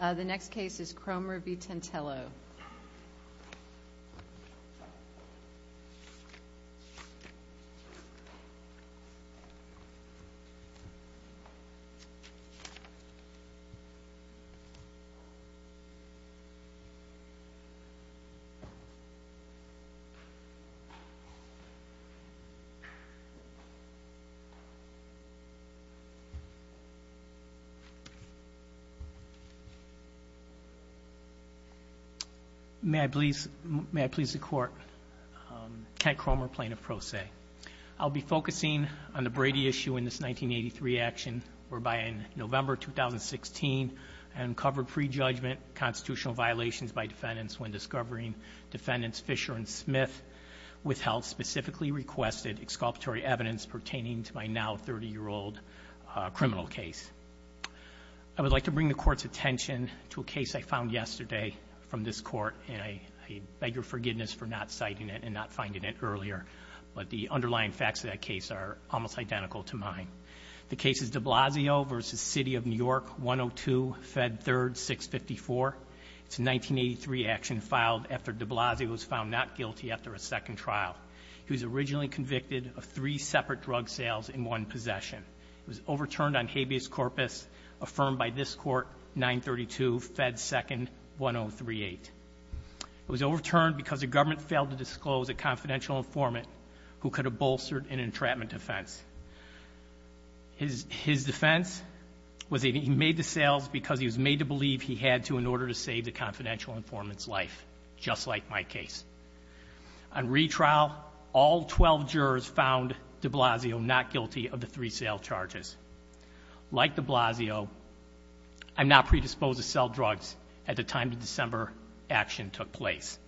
The next case is Kroemer v. Tantillo. May I please the Court? Kent Kroemer, Plaintiff Pro Se. I'll be focusing on the Brady issue in this 1983 action, whereby in November 2016, I uncovered prejudgment constitutional violations by defendants when discovering defendants Fisher and Smith withheld specifically requested exculpatory evidence pertaining to my now 30-year-old criminal case. I would like to bring the Court's attention to a case I found yesterday from this Court, and I beg your forgiveness for not citing it and not finding it earlier, but the underlying facts of that case are almost identical to mine. The case is de Blasio v. City of New York, 102, Fed 3rd, 654. It's a 1983 action filed after de Blasio was found not guilty after a second trial. He was originally convicted of three separate drug sales in one possession. It was overturned on habeas corpus, affirmed by this Court, 932, Fed 2nd, 1038. It was overturned because the government failed to disclose a confidential informant who could have bolstered an entrapment offense. His defense was that he made the sales because he was made to believe he had to in order to save the confidential informant's life, just like my case. On retrial, all 12 jurors found de Blasio not guilty of the three sale charges. Like de Blasio, I'm not predisposed to sell drugs at the time the December action took place.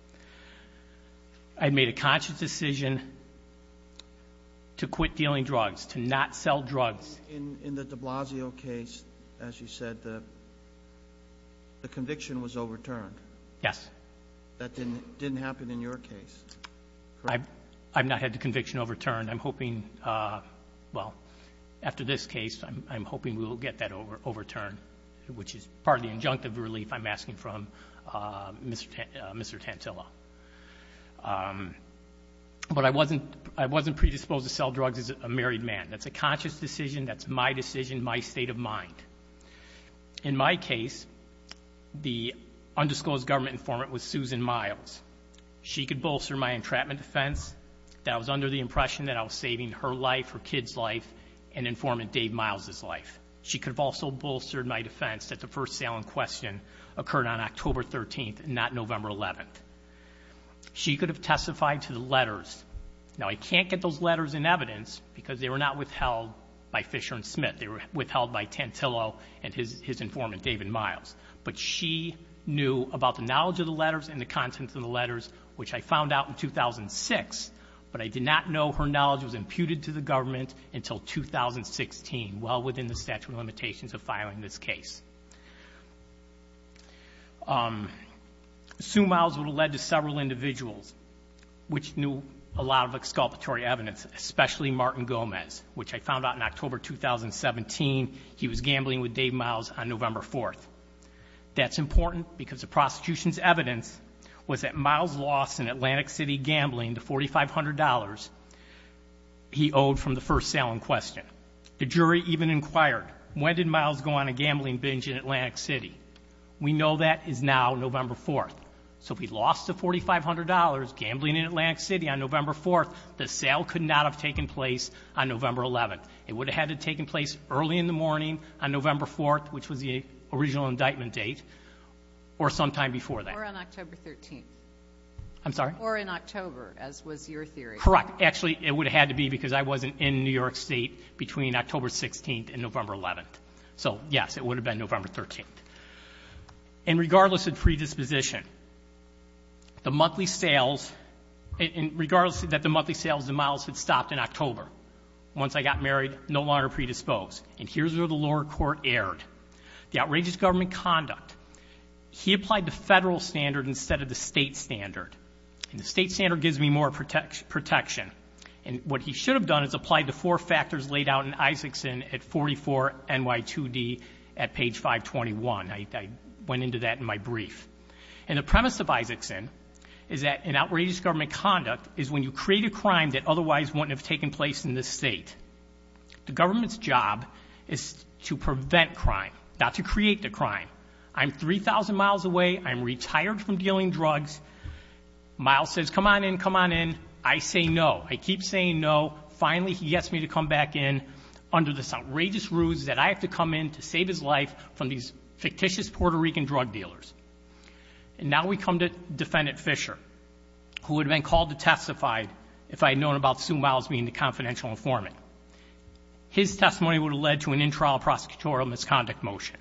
I made a conscious decision to quit dealing drugs, to not sell drugs. In the de Blasio case, as you said, the conviction was overturned. Yes. That didn't happen in your case, correct? I've not had the conviction overturned. I'm hoping, well, after this case, I'm hoping we will get that overturned, which is part of the injunctive relief I'm asking from Mr. Tantilla. But I wasn't predisposed to sell drugs as a married man. That's a conscious decision. That's my decision, my state of mind. In my case, the undisclosed government informant was Susan Miles. She could bolster my entrapment defense that I was under the impression that I was saving her life, her kid's life, and informant Dave Miles' life. She could have also bolstered my defense that the first sale in question occurred on October 13th and not November 11th. Now, I can't get those letters in evidence because they were not withheld by Fisher and Smith. They were withheld by Tantilla and his informant, David Miles. But she knew about the knowledge of the letters and the contents of the letters, which I found out in 2006. But I did not know her knowledge was imputed to the government until 2016, well within the statute of limitations of filing this case. Sue Miles would have led to several individuals which knew a lot of exculpatory evidence, especially Martin Gomez, which I found out in October 2017 he was gambling with Dave Miles on November 4th. That's important because the prosecution's evidence was that Miles lost in Atlantic City gambling the $4,500 he owed from the first sale in question. The jury even inquired, when did Miles go on a gambling binge in Atlantic City? We know that is now November 4th. So if he lost the $4,500 gambling in Atlantic City on November 4th, the sale could not have taken place on November 11th. It would have had to have taken place early in the morning on November 4th, which was the original indictment date, or sometime before that. Or on October 13th. I'm sorry? Or in October, as was your theory. Correct. Actually, it would have had to be because I wasn't in New York State between October 16th and November 11th. So, yes, it would have been November 13th. And regardless of predisposition, the monthly sales, regardless that the monthly sales of Miles had stopped in October, once I got married, no longer predisposed. And here's where the lower court erred. The outrageous government conduct. He applied the federal standard instead of the state standard. And the state standard gives me more protection. And what he should have done is applied the four factors laid out in Isaacson at 44NY2D at page 521. I went into that in my brief. And the premise of Isaacson is that an outrageous government conduct is when you create a crime that otherwise wouldn't have taken place in this state. The government's job is to prevent crime, not to create the crime. I'm 3,000 miles away. I'm retired from dealing drugs. Miles says, come on in, come on in. I say no. I keep saying no. Finally, he gets me to come back in under this outrageous ruse that I have to come in to save his life from these fictitious Puerto Rican drug dealers. And now we come to Defendant Fisher, who would have been called to testify if I had known about Sue Miles being the confidential informant. His testimony would have led to an in-trial prosecutorial misconduct motion.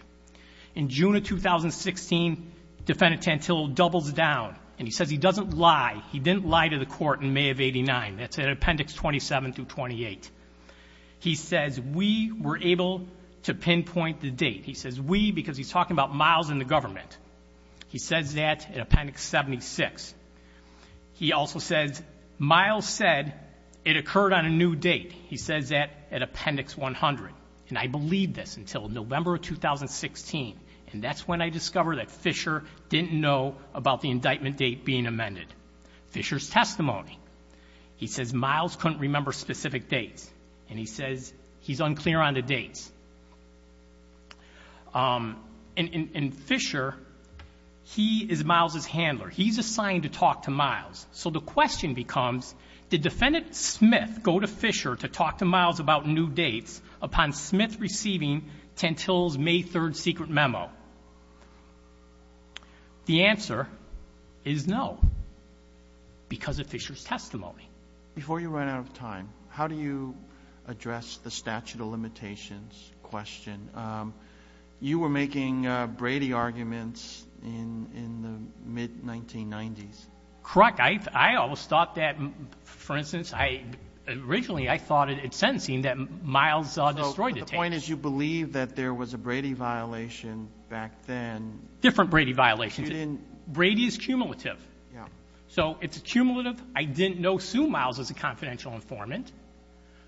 In June of 2016, Defendant Tantillo doubles down, and he says he doesn't lie. He didn't lie to the court in May of 89. That's in Appendix 27 through 28. He says we were able to pinpoint the date. He says we because he's talking about Miles and the government. He says that in Appendix 76. He also says Miles said it occurred on a new date. He says that at Appendix 100. And I believed this until November of 2016, and that's when I discovered that Fisher didn't know about the indictment date being amended. Fisher's testimony, he says Miles couldn't remember specific dates. And he says he's unclear on the dates. And Fisher, he is Miles' handler. He's assigned to talk to Miles. So the question becomes, did Defendant Smith go to Fisher to talk to Miles about new dates upon Smith receiving Tantillo's May 3rd secret memo? The answer is no, because of Fisher's testimony. Before you run out of time, how do you address the statute of limitations question? You were making Brady arguments in the mid-1990s. Correct. I always thought that, for instance, originally I thought at sentencing that Miles destroyed the tapes. The point is you believe that there was a Brady violation back then. Different Brady violations. Brady is cumulative. So it's cumulative. I didn't know Sue Miles was a confidential informant.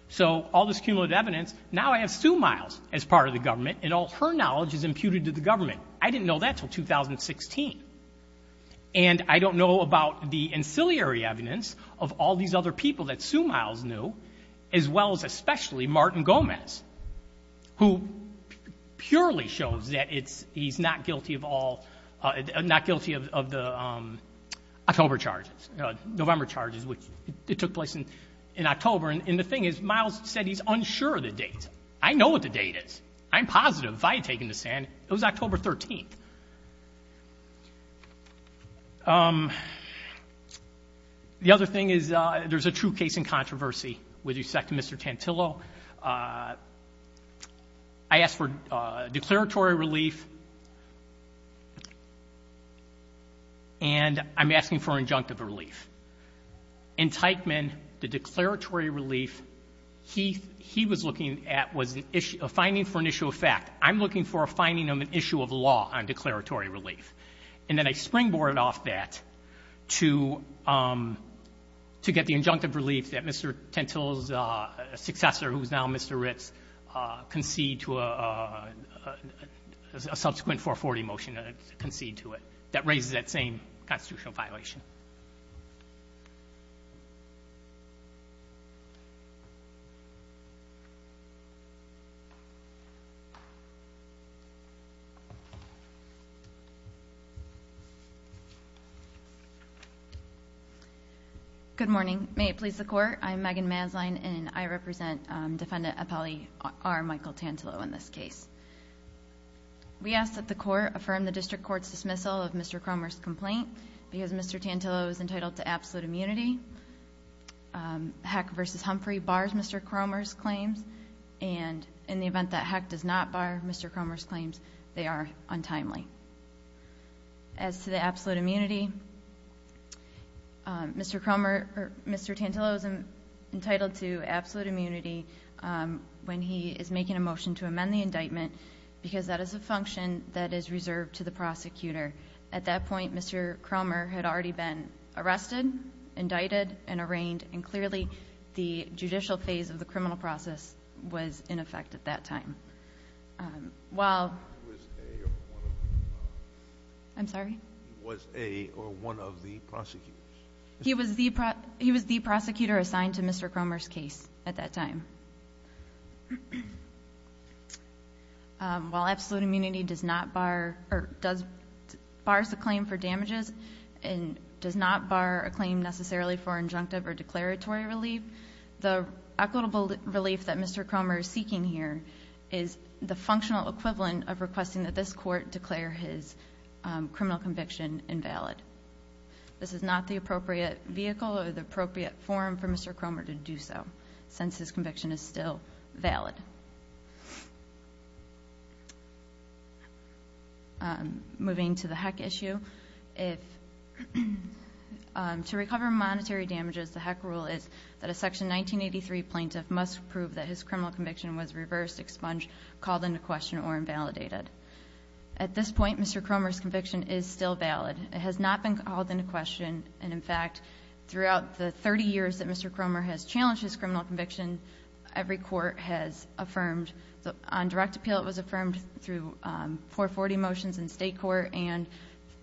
So all this cumulative evidence, now I have Sue Miles as part of the government, and all her knowledge is imputed to the government. I didn't know that until 2016. And I don't know about the ancillary evidence of all these other people that Sue Miles knew, as well as especially Martin Gomez, who purely shows that he's not guilty of all, not guilty of the October charges, November charges, which took place in October. And the thing is, Miles said he's unsure of the date. I know what the date is. I'm positive. It was October 13th. The other thing is there's a true case in controversy with respect to Mr. Tantillo. I asked for declaratory relief, and I'm asking for an injunctive relief. In Teichman, the declaratory relief he was looking at was a finding for an issue of fact. I'm looking for a finding of an issue of law on declaratory relief. And then I springboard off that to get the injunctive relief that Mr. Tantillo's successor, who is now Mr. Ritz, concede to a subsequent 440 motion to concede to it. That raises that same constitutional violation. Good morning. May it please the Court. I'm Megan Masline, and I represent Defendant Appellee R. Michael Tantillo in this case. We ask that the Court affirm the District Court's dismissal of Mr. Cromer's complaint because Mr. Tantillo is entitled to absolute immunity. Heck v. Humphrey bars Mr. Cromer's claims, and in the event that Heck does not bar Mr. Cromer's claims, they are untimely. As to the absolute immunity, Mr. Tantillo is entitled to absolute immunity when he is making a motion to amend the indictment because that is a function that is reserved to the prosecutor. At that point, Mr. Cromer had already been arrested, indicted, and arraigned, and clearly the judicial phase of the criminal process was in effect at that time. He was a or one of the prosecutors? He was the prosecutor assigned to Mr. Cromer's case at that time. While absolute immunity does not bar, or bars the claim for damages, and does not bar a claim necessarily for injunctive or declaratory relief, the equitable relief that Mr. Cromer is seeking here is the functional equivalent of requesting that this Court declare his criminal conviction invalid. This is not the appropriate vehicle or the appropriate forum for Mr. Cromer to do so, since his conviction is still valid. Moving to the HECC issue, to recover monetary damages, the HECC rule is that a Section 1983 plaintiff must prove that his criminal conviction was reversed, expunged, called into question, or invalidated. At this point, Mr. Cromer's conviction is still valid. It has not been called into question, and in fact, throughout the 30 years that Mr. Cromer has challenged his criminal conviction, every court has affirmed, on direct appeal it was affirmed through 440 motions in state court, and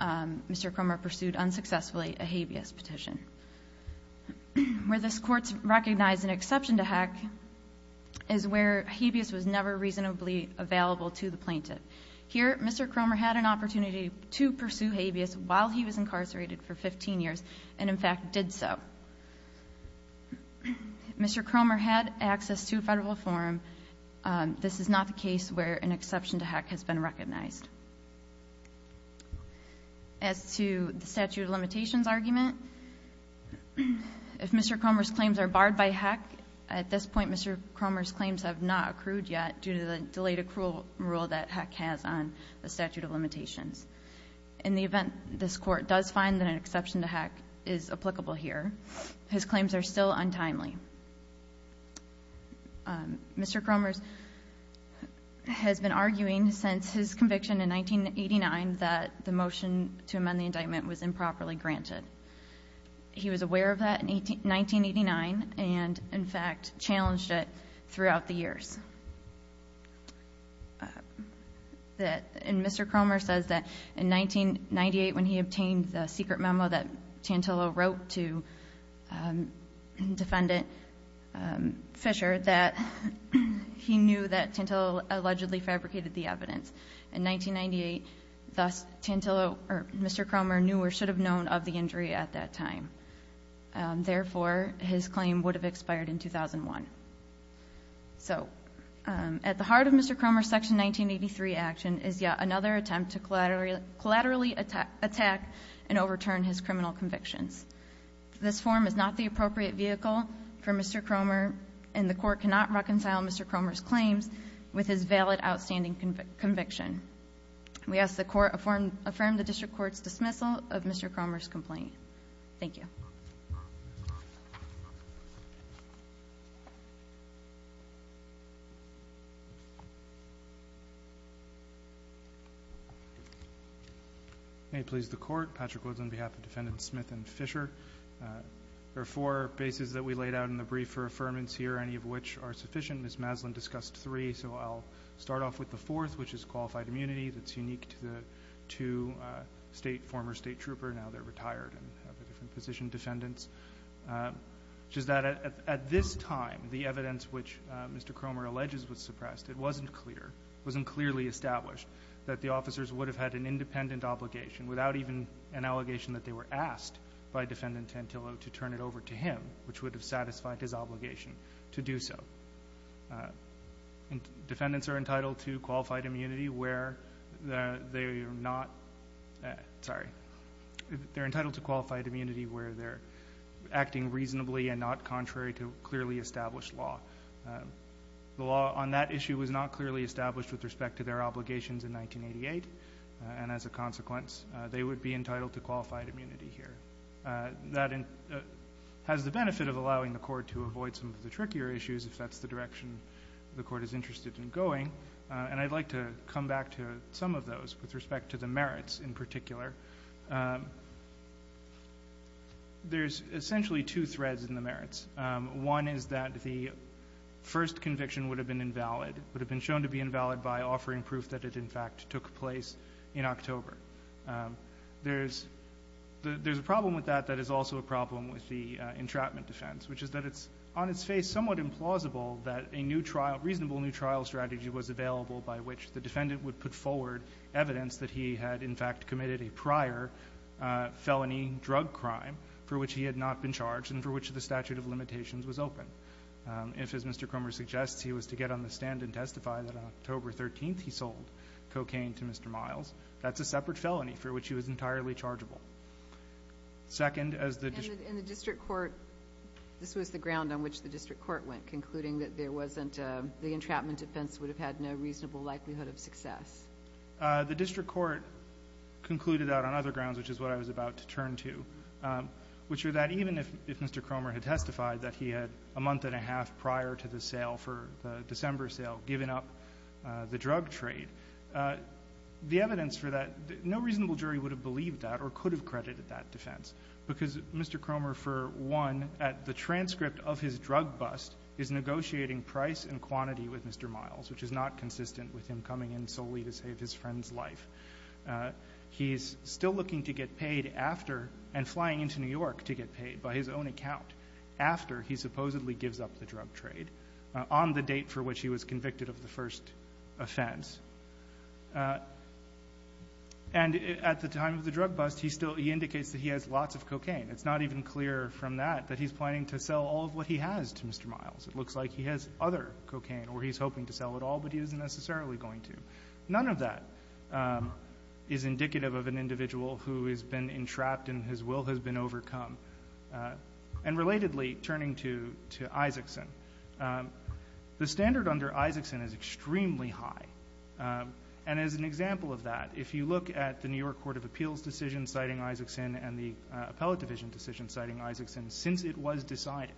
Mr. Cromer pursued unsuccessfully a habeas petition. Where this Court's recognized an exception to HECC is where habeas was never reasonably available to the plaintiff. Here, Mr. Cromer had an opportunity to pursue habeas while he was incarcerated for 15 years, and in fact did so. If Mr. Cromer had access to a federal forum, this is not the case where an exception to HECC has been recognized. As to the statute of limitations argument, if Mr. Cromer's claims are barred by HECC, at this point Mr. Cromer's claims have not accrued yet due to the delayed accrual rule that HECC has on the statute of limitations. In the event this Court does find that an exception to HECC is applicable here, his claims are still untimely. Mr. Cromer has been arguing since his conviction in 1989 that the motion to amend the indictment was improperly granted. He was aware of that in 1989, and in fact challenged it throughout the years. Mr. Cromer says that in 1998, when he obtained the secret memo that Tantello wrote to defendant Fisher, that he knew that Tantello allegedly fabricated the evidence. In 1998, thus, Mr. Cromer knew or should have known of the injury at that time. Therefore, his claim would have expired in 2001. So, at the heart of Mr. Cromer's Section 1983 action is yet another attempt to collaterally attack and overturn his criminal convictions. This form is not the appropriate vehicle for Mr. Cromer, and the Court cannot reconcile Mr. Cromer's claims with his valid outstanding conviction. We ask the Court affirm the District Court's dismissal of Mr. Cromer's complaint. Thank you. Thank you. May it please the Court, Patrick Woods on behalf of Defendants Smith and Fisher. There are four bases that we laid out in the brief for affirmance here, any of which are sufficient. Ms. Maslin discussed three, so I'll start off with the fourth, which is qualified immunity. That's unique to the two former state trooper. Which is that at this time, the evidence which Mr. Cromer alleges was suppressed, it wasn't clear, it wasn't clearly established that the officers would have had an independent obligation without even an allegation that they were asked by Defendant Tantillo to turn it over to him, which would have satisfied his obligation to do so. Defendants are entitled to qualified immunity where they're acting reasonably and not contrary to clearly established law. The law on that issue was not clearly established with respect to their obligations in 1988, and as a consequence, they would be entitled to qualified immunity here. That has the benefit of allowing the Court to avoid some of the trickier issues, if that's the direction the Court is interested in going. And I'd like to come back to some of those with respect to the merits in particular. There's essentially two threads in the merits. One is that the first conviction would have been invalid, would have been shown to be invalid by offering proof that it, in fact, took place in October. There's a problem with that that is also a problem with the entrapment defense, which is that it's on its face somewhat implausible that a new trial, reasonable new trial strategy was available by which the defendant would put forward evidence that he had, in fact, committed a prior felony drug crime for which he had not been charged and for which the statute of limitations was open. If, as Mr. Cromer suggests, he was to get on the stand and testify that on October 13th he sold cocaine to Mr. Miles, that's a separate felony for which he was entirely chargeable. Second, as the district court. And the district court, this was the ground on which the district court went, concluding that there wasn't, the entrapment defense would have had no reasonable likelihood of success. The district court concluded that on other grounds, which is what I was about to turn to, which are that even if Mr. Cromer had testified that he had a month and a half prior to the sale, for the December sale, given up the drug trade, the evidence for that, no reasonable jury would have believed that or could have credited that defense, because Mr. Cromer, for one, at the transcript of his drug bust, is negotiating price and quantity with Mr. Miles, which is not consistent with him coming in solely to save his friend's life. He's still looking to get paid after and flying into New York to get paid by his own account after he supposedly gives up the drug trade on the date for which he was convicted of the first offense. And at the time of the drug bust, he still indicates that he has lots of cocaine. It's not even clear from that that he's planning to sell all of what he has to Mr. Miles. It looks like he has other cocaine or he's hoping to sell it all, but he isn't necessarily going to. None of that is indicative of an individual who has been entrapped and his will has been overcome. And relatedly, turning to Isaacson, the standard under Isaacson is extremely high. And as an example of that, if you look at the New York Court of Appeals decision citing Isaacson and the Appellate Division decision citing Isaacson, since it was decided,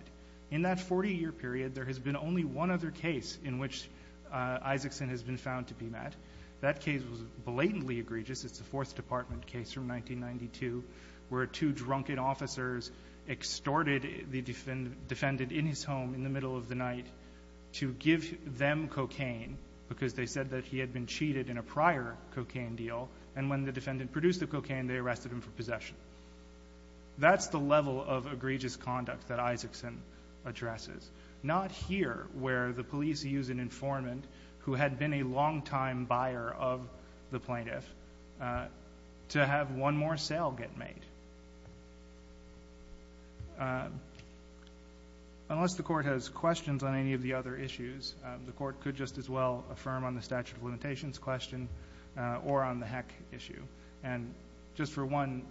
in that 40-year period, there has been only one other case in which Isaacson has been found to be met. That case was blatantly egregious. It's the Fourth Department case from 1992 where two drunken officers extorted the defendant in his home in the middle of the night to give them cocaine because they said that he had been cheated in a prior cocaine deal. And when the defendant produced the cocaine, they arrested him for possession. That's the level of egregious conduct that Isaacson addresses. Not here, where the police use an informant who had been a long-time buyer of the plaintiff to have one more sale get made. Unless the Court has questions on any of the other issues, the Court could just as well affirm on the statute of limitations question or on the heck issue. And just for one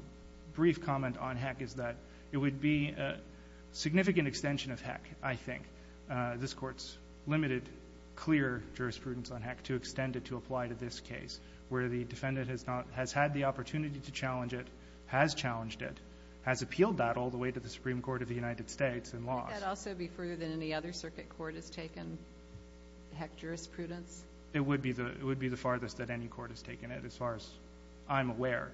brief comment on heck is that it would be a significant extension of heck, I think. This Court's limited, clear jurisprudence on heck to extend it to apply to this case, where the defendant has not — has had the opportunity to challenge it, has challenged it, has appealed that all the way to the Supreme Court of the United States and lost. Would that also be further than any other circuit court has taken heck jurisprudence? It would be the farthest that any court has taken it, as far as I'm aware.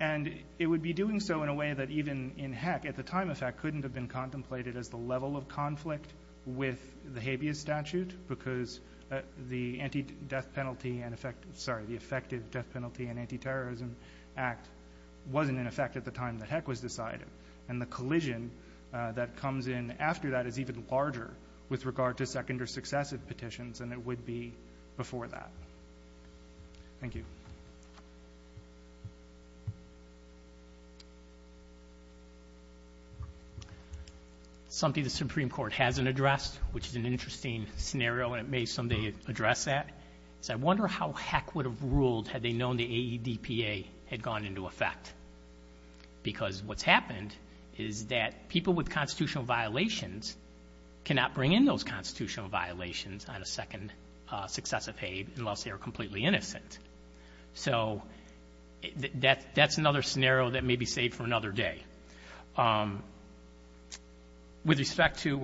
And it would be doing so in a way that even in heck, at the time of heck, couldn't have been contemplated as the level of conflict with the habeas statute because the effective death penalty and anti-terrorism act wasn't in effect at the time that heck was decided. And the collision that comes in after that is even larger with regard to second or successive petitions, and it would be before that. Thank you. Something the Supreme Court hasn't addressed, which is an interesting scenario, and it may someday address that, is I wonder how heck would have ruled had they known the AEDPA had gone into effect. Because what's happened is that people with constitutional violations cannot bring in those constitutional violations on a second successive habe unless they are completely innocent. So that's another scenario that may be saved for another day. With respect to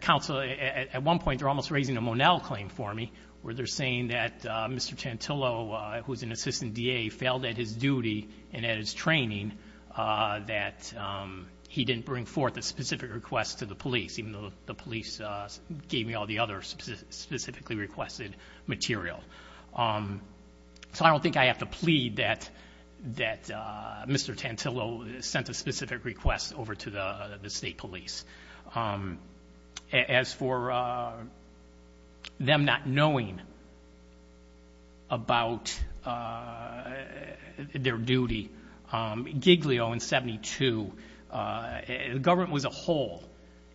counsel, at one point they're almost raising a Monell claim for me, where they're saying that Mr. Chantillo, who is an assistant DA, failed at his duty and at his training that he didn't bring forth a specific request to the police, even though the police gave me all the other specifically requested material. So I don't think I have to plead that Mr. Chantillo sent a specific request over to the state police. As for them not knowing about their duty, Giglio in 72, the government was a whole.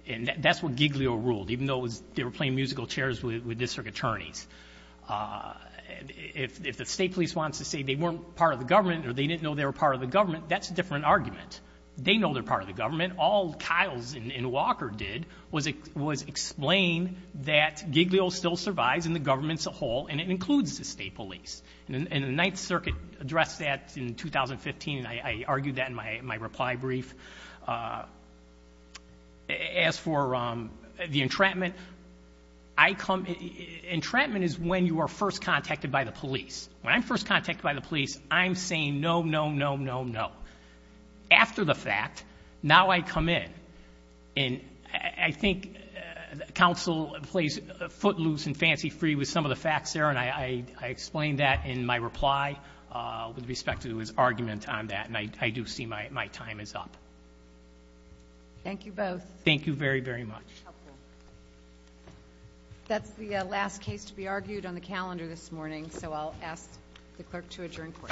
And that's what Giglio ruled, even though they were playing musical chairs with district attorneys. If the state police wants to say they weren't part of the government or they didn't know they were part of the government, that's a different argument. They know they're part of the government. All Kyles and Walker did was explain that Giglio still survives in the government as a whole, and it includes the state police. And the Ninth Circuit addressed that in 2015, and I argued that in my reply brief. As for the entrapment, entrapment is when you are first contacted by the police. When I'm first contacted by the police, I'm saying no, no, no, no, no. After the fact, now I come in. And I think counsel plays footloose and fancy-free with some of the facts there, and I explained that in my reply with respect to his argument on that, and I do see my time is up. Thank you both. Thank you very, very much. That's the last case to be argued on the calendar this morning, so I'll ask the clerk to adjourn court. Thank you.